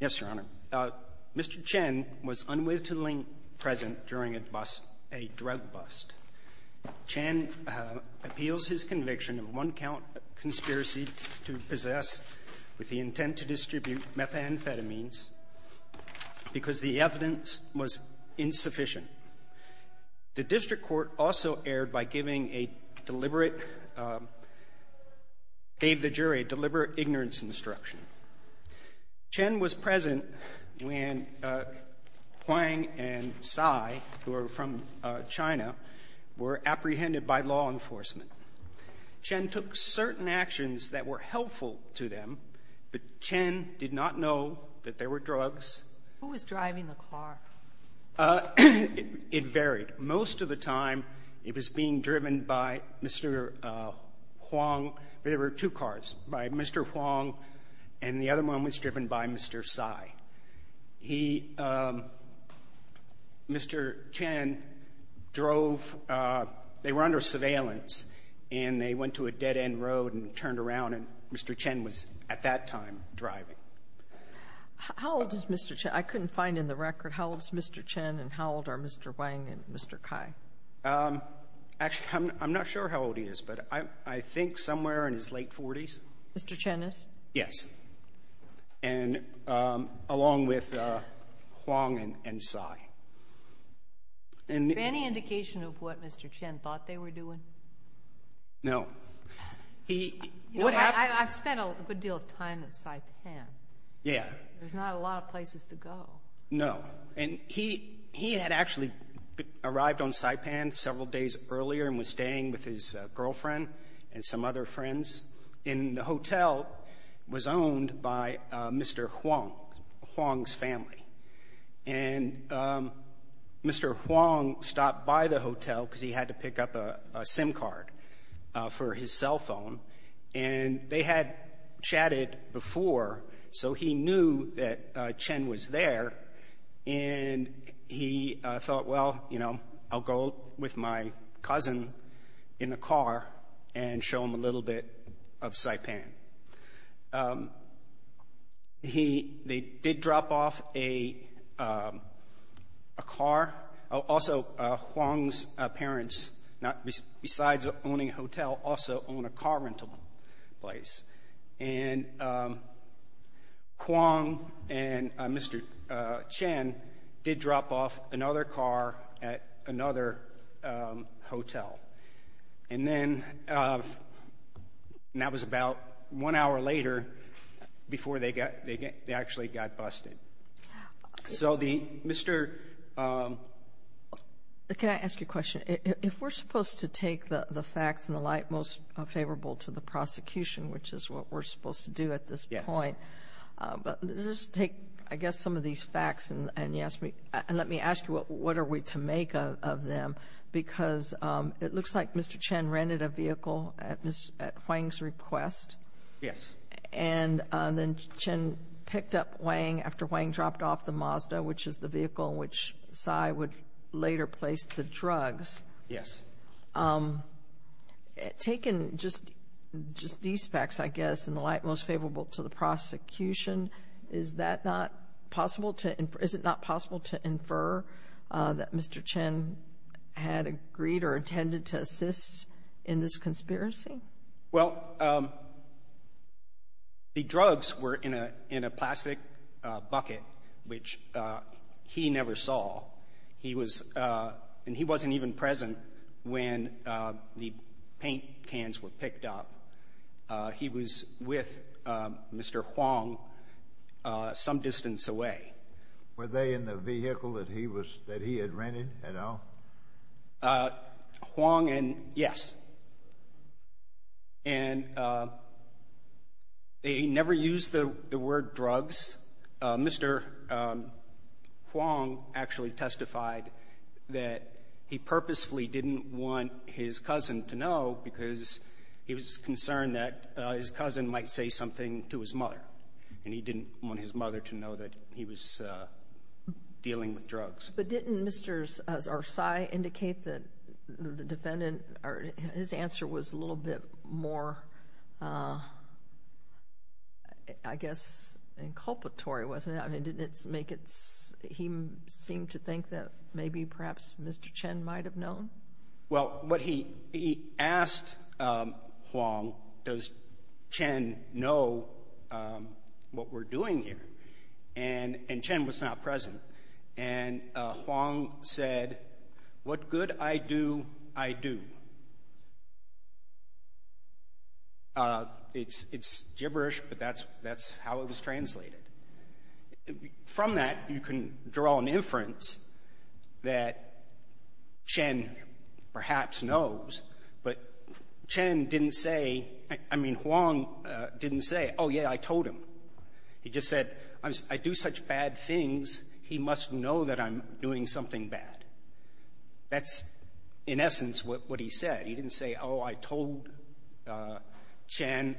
Yes, Your Honor. Mr. Chen was unwittingly present during a bust, a drug bust. Chen appeals his conviction of one-count conspiracy to possess with the intent to distribute methamphetamines because the evidence was insufficient. The district court also erred by giving a deliberate — gave the jury a deliberate ignorance instruction. Chen was present when Huang and Tsai, who are from China, were apprehended by law enforcement. Chen took certain actions that were helpful to them, but Chen did not know that there were drugs. Sotomayor Who was driving the car? Zhaopeng It varied. Most of the time, it was being driven by Mr. Huang. There were two cars, by Mr. Huang, and the other one was driven by Mr. Tsai. He — Mr. Chen drove — they were under surveillance, and they went to a dead-end road and turned around, and Mr. Chen was, at that time, driving. Sotomayor How old is Mr. Chen? I couldn't find in the record how old is Mr. Chen and how old are Mr. Wang and Mr. Cai. Zhaopeng Actually, I'm not sure how old he is, but I think somewhere in his late Sotomayor Mr. Chen is? Zhaopeng Yes. And along with Huang and Tsai. And — Sotomayor Is there any indication of what Mr. Chen thought they were doing? Zhaopeng No. Sotomayor I've spent a good deal of time in Saipan. Zhaopeng Yeah. Sotomayor There's not a lot of places to go. Zhaopeng No. And he — he had actually arrived on Saipan several days earlier and was staying with his girlfriend and some other friends. And the hotel was owned by Mr. Huang, Huang's family. And Mr. Huang stopped by the hotel because he had to pick up a SIM card for his And he thought, well, you know, I'll go with my cousin in the car and show him a little bit of Saipan. He — they did drop off a car. Also, Huang's parents, besides owning a hotel, also own a car rental place. And Huang and Mr. Chen did drop off another car at another hotel. And then — and that was about one hour later before they got — they actually got busted. So the — Mr. — Sotomayor Can I ask you a question? If we're supposed to take the facts and the light most favorable to the prosecution, which is what we're supposed to do at this point, but let's just take, I guess, some of these facts and you ask me — and let me ask you, what are we to make of them? Because it looks like Mr. Chen rented a vehicle at Huang's request. Zhaopeng Yes. Sotomayor And then Chen picked up Huang after Huang dropped off the Mazda, which is the vehicle in which Tsai would later place the drugs. Zhaopeng Yes. Sotomayor Taken just these facts, I guess, and the light most favorable to the prosecution, is that not possible to — is it not possible to infer that Mr. Chen had agreed or intended to assist in this conspiracy? Zhaopeng Well, the drugs were in a plastic bucket, which he never saw. He was — and he wasn't even present when the paint cans were picked up. He was with Mr. Huang some distance away. Sotomayor Were they in the vehicle that he was — that he had rented at all? Zhaopeng Huang and — yes. And they never used the word drugs. Mr. Huang actually testified that he purposefully didn't want his cousin to know because he was concerned that his cousin might say something to his mother, and he didn't want his mother to know that he was dealing with drugs. Sotomayor But didn't Mr. — or Tsai indicate that the defendant — or his answer was a little bit more, I guess, inculpatory, wasn't it? I mean, didn't it make it — he seemed to think that maybe perhaps Mr. Chen might have known? Zhaopeng Well, what he — he asked Huang, does Chen know what we're doing here? And Chen was not present. And Huang said, what good I do, I do. It's gibberish, but that's how it was translated. From that, you can draw an inference that Chen perhaps knows, but Chen didn't say — I mean, Huang didn't say, oh, yeah, I told him. He just said, I do such bad things, he must know that I'm doing something bad. That's, in essence, what he said. He didn't say, oh, I told Chen.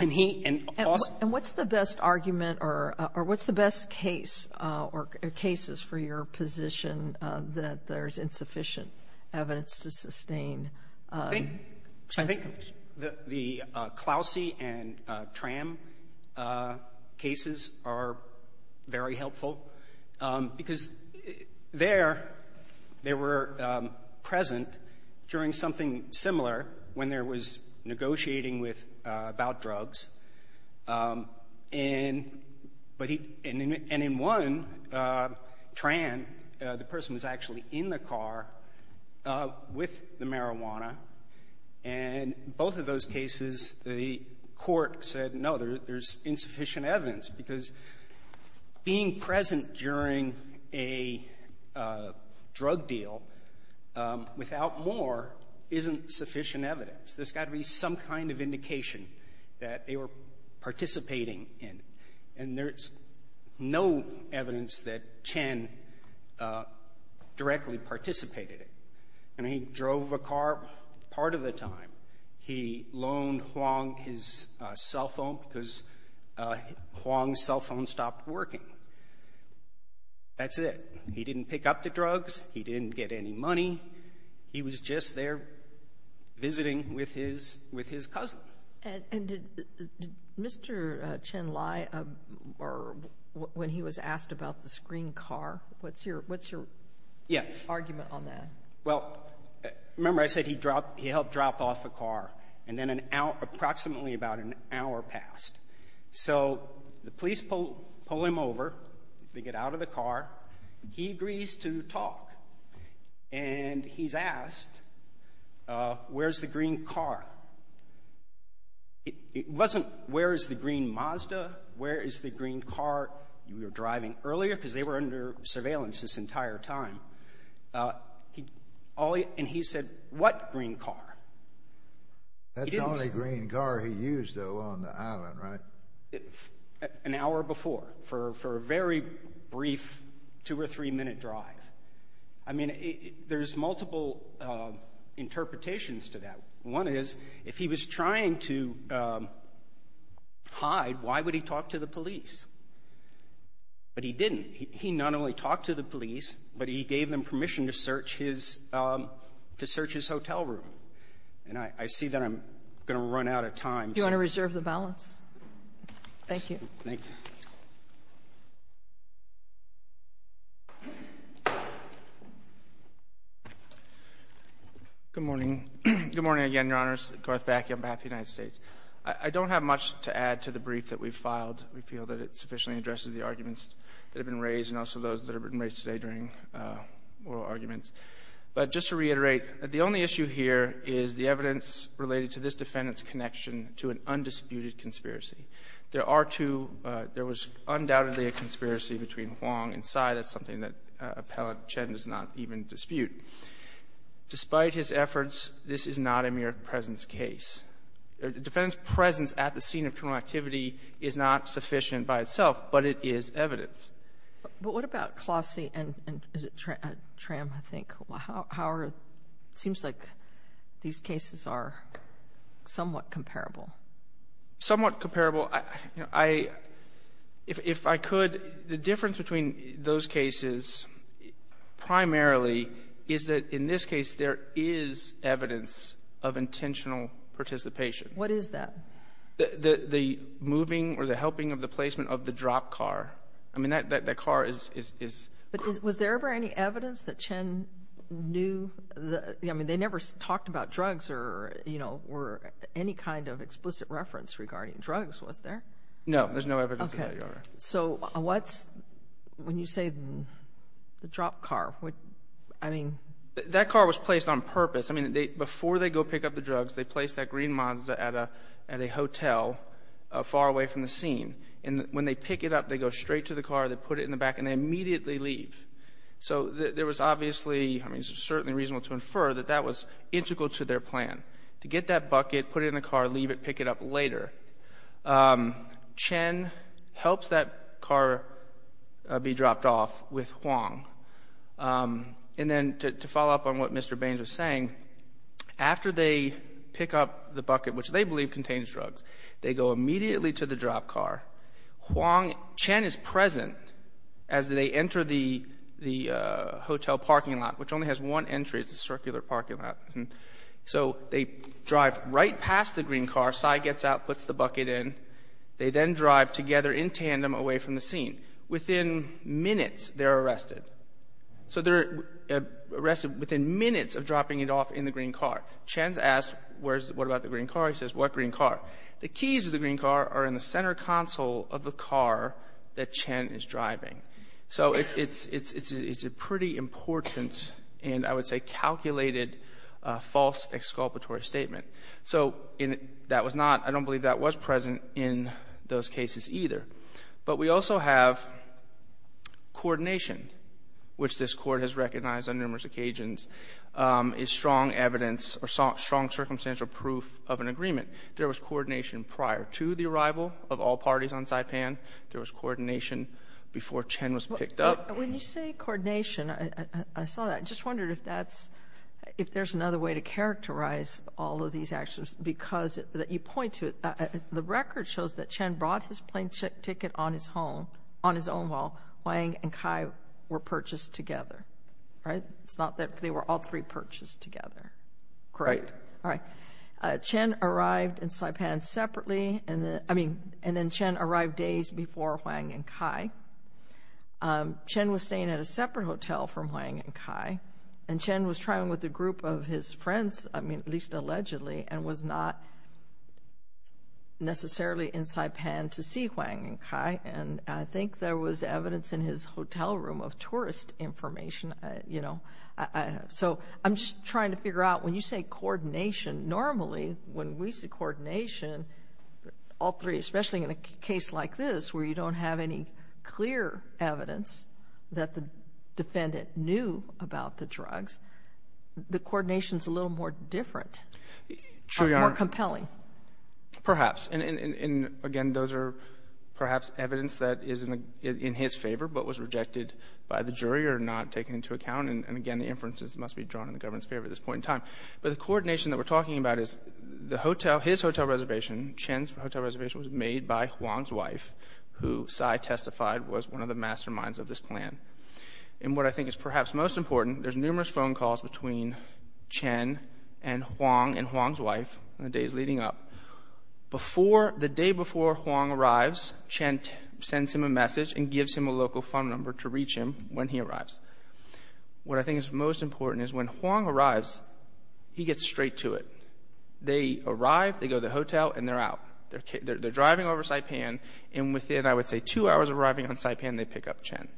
And he — and also — Sotomayor And what's the best argument or what's the best case or cases for your position that there's insufficient evidence to sustain — Zhaopeng I think the Clousey and Tran cases are very helpful, because there, they were present during something similar when there was negotiating with — about drugs. And — but he — and in one, Tran, the person was actually in the car with the marijuana, and both of those cases, the court said, no, there's insufficient evidence, because being present during a drug deal without more isn't sufficient evidence. There's got to be some kind of indication that they were participating in. And there's no evidence that Chen directly participated in. And he drove a car part of the time. He loaned Huang his cell phone because Huang's cell phone stopped working. That's it. He didn't pick up the drugs. He didn't get any money. He was just there visiting with his — with his cousin. And did Mr. Chen lie or — when he was asked about this green car? What's your — what's your argument on that? Yeah. Well, remember I said he dropped — he helped drop off a car, and then an hour — approximately about an hour passed. So the police pull him over. They get out of the car. He agrees to talk. And he's asked, where's the green car? It wasn't, where is the green Mazda? Where is the green car you were driving earlier? Because they were under surveillance this entire time. He — and he said, what green car? He didn't say. That's the only green car he used, though, on the island, right? An hour before, for a very brief two- or three-minute drive. I mean, there's multiple interpretations to that. One is, if he was trying to hide, why would he talk to the police? But he didn't. He not only talked to the police, but he gave them permission to search his — to search his hotel room. And I see that I'm going to run out of time. Do you want to reserve the balance? Thank you. Thank you. Good morning. Good morning again, Your Honors. Garth Backey on behalf of the United States. I don't have much to add to the brief that we've filed. We feel that it sufficiently addresses the arguments that have been raised, and also those that have been raised today during oral arguments. But just to reiterate, the only issue here is the evidence related to this case. There was undoubtedly a conspiracy between Huang and Tsai. That's something that Appellant Chen does not even dispute. Despite his efforts, this is not a mere presence case. Defendant's presence at the scene of criminal activity is not sufficient by itself, but it is evidence. But what about Klossy and — is it Tram, I think? How are — it seems like these cases are somewhat comparable. Somewhat comparable. I — if I could, the difference between those cases primarily is that in this case, there is evidence of intentional participation. What is that? The moving or the helping of the placement of the dropped car. I mean, that car is — But was there ever any evidence that Chen knew — I mean, they never talked about drugs or, you know, were — any kind of explicit reference regarding drugs, was there? No, there's no evidence of that, Your Honor. So what's — when you say the dropped car, what — I mean — That car was placed on purpose. I mean, they — before they go pick up the drugs, they place that green Mazda at a hotel far away from the scene. And when they pick it up, they go straight to the car, they put it in the back, and they immediately leave. So there was obviously — I mean, it's certainly reasonable to infer that that was integral to their plan, to get that bucket, put it in the car, leave it, pick it up later. Chen helps that car be dropped off with Huang. And then to follow up on what Mr. Baines was saying, after they pick up the bucket, which they believe contains drugs, they go immediately to the dropped car. Huang — Chen is present as they enter the hotel parking lot, which only has one entry. It's a circular parking lot. So they drive right past the green car. Tsai gets out, puts the bucket in. They then drive together in tandem away from the scene. Within minutes, they're arrested. So they're arrested within minutes of dropping it off in the green car. Chen's asked, what about the green car? He says, what green car? The keys to the green car are in the center console of the car that Chen is driving. So it's a pretty important and, I would say, calculated false exculpatory statement. So that was not — I don't believe that was present in those cases either. But we also have coordination, which this Court has recognized on numerous occasions is strong evidence or strong circumstantial proof of an agreement. There was coordination prior to the arrival of all parties on Saipan. There was coordination before Chen was picked up. When you say coordination, I saw that. I just wondered if that's — if there's another way to characterize all of these actions, because you point to it. The record shows that Chen brought his plane ticket on his home — on his own while Huang and Tsai were purchased together, right? It's not that they were all three purchased together, correct? Right. All right. Chen arrived in Saipan separately, and then — I mean, and then Chen arrived days before Huang and Tsai. Chen was staying at a separate hotel from Huang and Tsai, and Chen was traveling with a group of his friends, I mean, at least allegedly, and was not necessarily in Saipan to see Huang and Tsai. And I think there was evidence in his hotel room of Normally, when we say coordination, all three, especially in a case like this, where you don't have any clear evidence that the defendant knew about the drugs, the coordination is a little more different, more compelling. True, Your Honor. Perhaps. And again, those are perhaps evidence that is in his favor but was rejected by the jury or not taken into account. And again, the inferences must be drawn in the government's favor at this point in time. But the coordination that we're talking about is the hotel — his hotel reservation, Chen's hotel reservation was made by Huang's wife, who Tsai testified was one of the masterminds of this plan. And what I think is perhaps most important, there's numerous phone calls between Chen and Huang and Huang's wife in the days leading up. Before — the day before Huang arrives, Chen sends him a message and gives him a local phone number to reach him when he arrives. What I think is most important is when Huang arrives, he gets straight to it. They arrive, they go to the hotel, and they're out. They're driving over Saipan, and within, I would say, two hours of arriving on Saipan, they pick up Chen.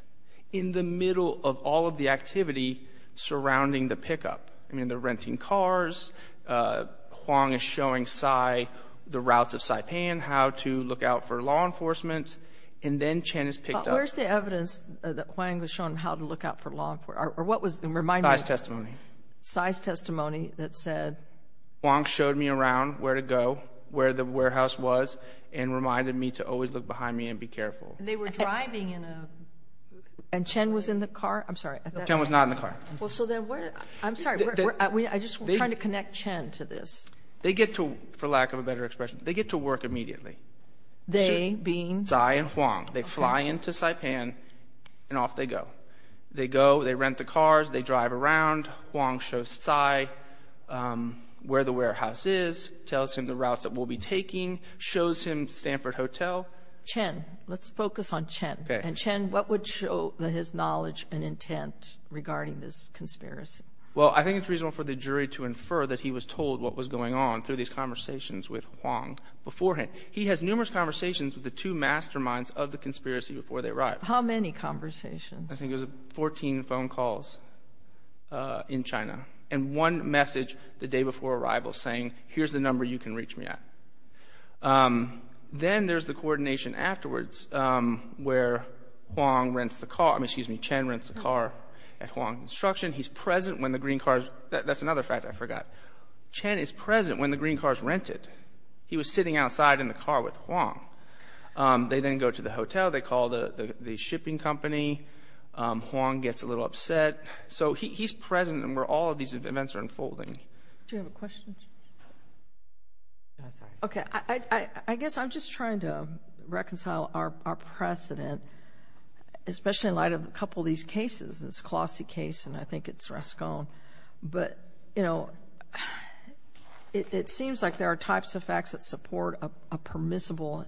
In the middle of all of the activity surrounding the pickup, I mean, they're renting cars, Huang is showing Tsai the routes of Saipan, how to look out for law enforcement, and then Chen is picked up. Where's the evidence that Huang was showing him how to look out for law enforcement? Or what was the reminder? Tsai's testimony. Tsai's testimony that said — Huang showed me around where to go, where the warehouse was, and reminded me to always look behind me and be careful. They were driving in a — and Chen was in the car? I'm sorry. Chen was not in the car. Well, so then where — I'm sorry, I'm just trying to connect Chen to this. They get to — for lack of a better expression, they get to work immediately. They being? Tsai and Huang. They fly into Saipan, and off they go. They go, they rent the cars, they drive around, Huang shows Tsai where the warehouse is, tells him the routes that we'll be taking, shows him Stanford Hotel. Chen. Let's focus on Chen. Okay. And Chen, what would show his knowledge and intent regarding this conspiracy? Well, I think it's reasonable for the jury to infer that he was told what was going on through these conversations with Huang beforehand. He has numerous conversations with the two masterminds of the conspiracy before they arrived. How many conversations? I think it was 14 phone calls in China, and one message the day before arrival saying, here's the number you can reach me at. Then there's the coordination afterwards where Huang rents the car — I mean, excuse me, Chen rents the car at Huang Construction. He's present when the green car — that's another fact I forgot. Chen is present when the green car is rented. He was sitting outside in the car with Huang. They then go to the hotel. They call the shipping company. Huang gets a little upset. So he's present where all of these events are unfolding. Do you have a question? Okay. I guess I'm just trying to reconcile our precedent, especially in light of a couple of these cases, this Colossi case, and I think it's Rascone. But, you know, it seems like there are facts that support a permissible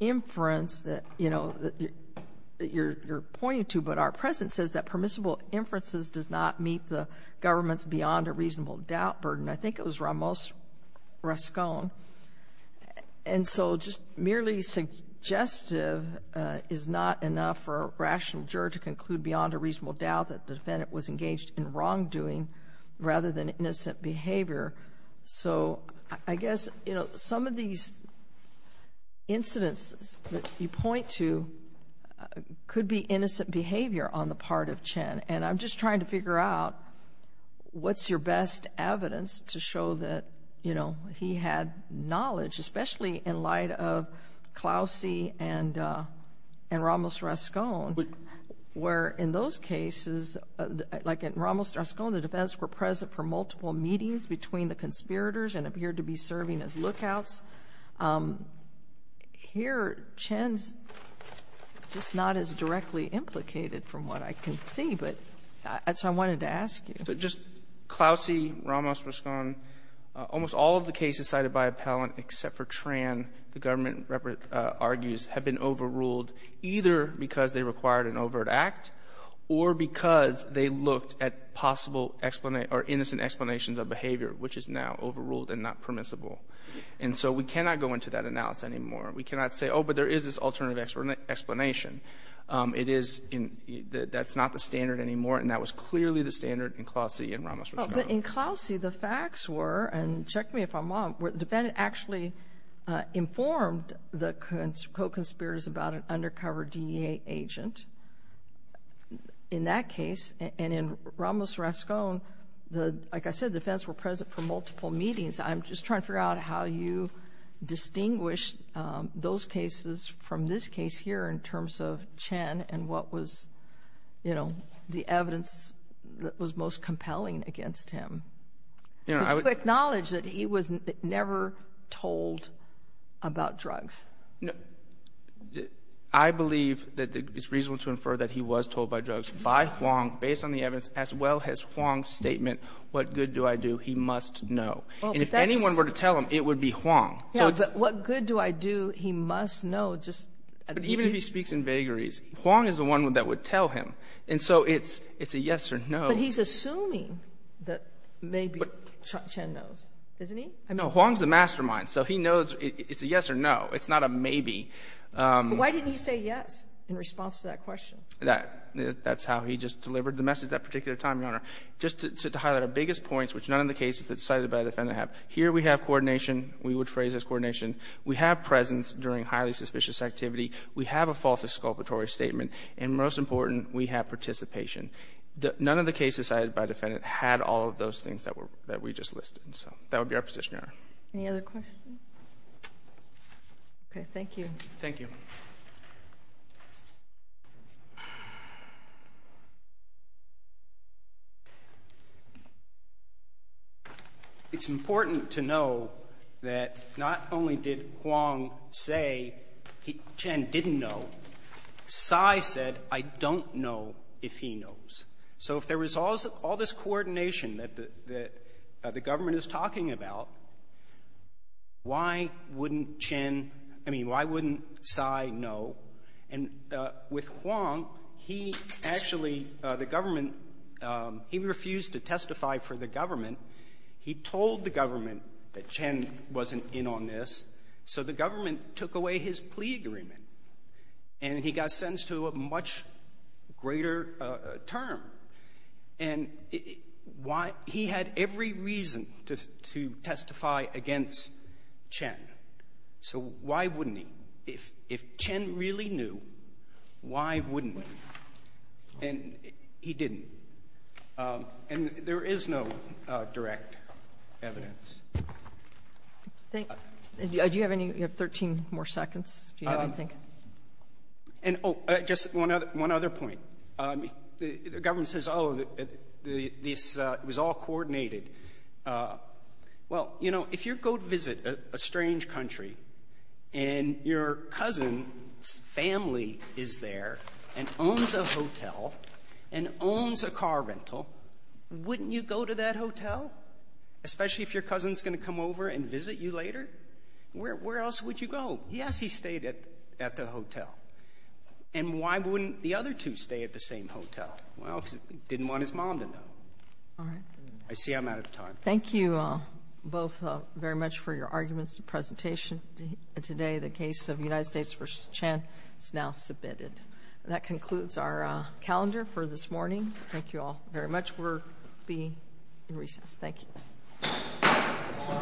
inference that, you know, that you're pointing to. But our precedent says that permissible inferences does not meet the government's beyond-a-reasonable-doubt burden. I think it was Ramos Rascone. And so just merely suggestive is not enough for a rational juror to conclude beyond a reasonable doubt that the defendant was engaged in wrongdoing rather than innocent behavior. So I guess, you know, some of these incidents that you point to could be innocent behavior on the part of Chen. And I'm just trying to figure out what's your best evidence to show that, you know, he had knowledge, especially in light of Colossi and Ramos Rascone, where in those cases, like in Ramos Rascone, the defense were present for multiple meetings between the conspirators and appeared to be serving as lookouts. Here, Chen's just not as directly implicated from what I can see. But that's what I wanted to ask you. So just Colossi, Ramos Rascone, almost all of the cases cited by appellant except for Tran, the government argues, have been overruled, either because they required an overt act or because they looked at possible or innocent explanations of behavior which is now overruled and not permissible. And so we cannot go into that analysis anymore. We cannot say, oh, but there is this alternative explanation. It is, that's not the standard anymore. And that was clearly the standard in Colossi and Ramos Rascone. In Colossi, the facts were, and check me if I'm wrong, where the defendant actually informed the co-conspirators about an undercover DEA agent in that case. And in Ramos Rascone, like I said, the defense were present for multiple meetings. I'm just trying to figure out how you distinguish those cases from this case here in terms of Chen and what was, you know, the evidence that was most compelling against him. You know, I would Acknowledge that he was never told about drugs. I believe that it's reasonable to infer that he was told by drugs by Huang, based on the evidence, as well as Huang's statement, what good do I do? He must know. And if anyone were to tell him, it would be Huang. Yeah, but what good do I do? He must know. But even if he speaks in vagaries, Huang is the one that would tell him. And so it's a yes or no. But he's assuming that maybe Chen knows, isn't he? No, Huang's the mastermind. So he knows it's a yes or no. It's not a maybe. But why didn't he say yes in response to that question? That's how he just delivered the message that particular time, Your Honor. Just to highlight our biggest points, which none of the cases cited by the defendant have. Here we have coordination. We would phrase this coordination. We have presence during highly suspicious activity. We have a false exculpatory statement. And most important, we have participation. None of the cases cited by the defendant had all of those things that we just listed. So that would be our position, Your Honor. Any other questions? Okay. Thank you. Thank you. It's important to know that not only did Huang say Chen didn't know, Sai said, I don't know if he knows. So if there was all this coordination that the government is And with Huang, he actually, the government, he refused to testify for the government. He told the government that Chen wasn't in on this. So the government took away his plea agreement. And he got sentenced to a much greater term. And why he had every reason to testify against Chen. So why wouldn't he? If Chen really knew, why wouldn't he? And he didn't. And there is no direct evidence. Do you have any? You have 13 more seconds, do you have anything? And, oh, just one other point. The government says, oh, this was all coordinated. Well, you know, if you go visit a strange country, and your cousin's family is there and owns a hotel and owns a car rental, wouldn't you go to that hotel, especially if your cousin's going to come over and visit you later? Where else would you go? Yes, he stayed at the hotel. And why wouldn't the other two stay at the same hotel? Well, because he didn't want his mom to know. All right. I see I'm out of time. Thank you both very much for your arguments and presentation today. The case of United States v. Chen is now submitted. That concludes our calendar for this morning. Thank you all very much. We'll be in recess. Thank you.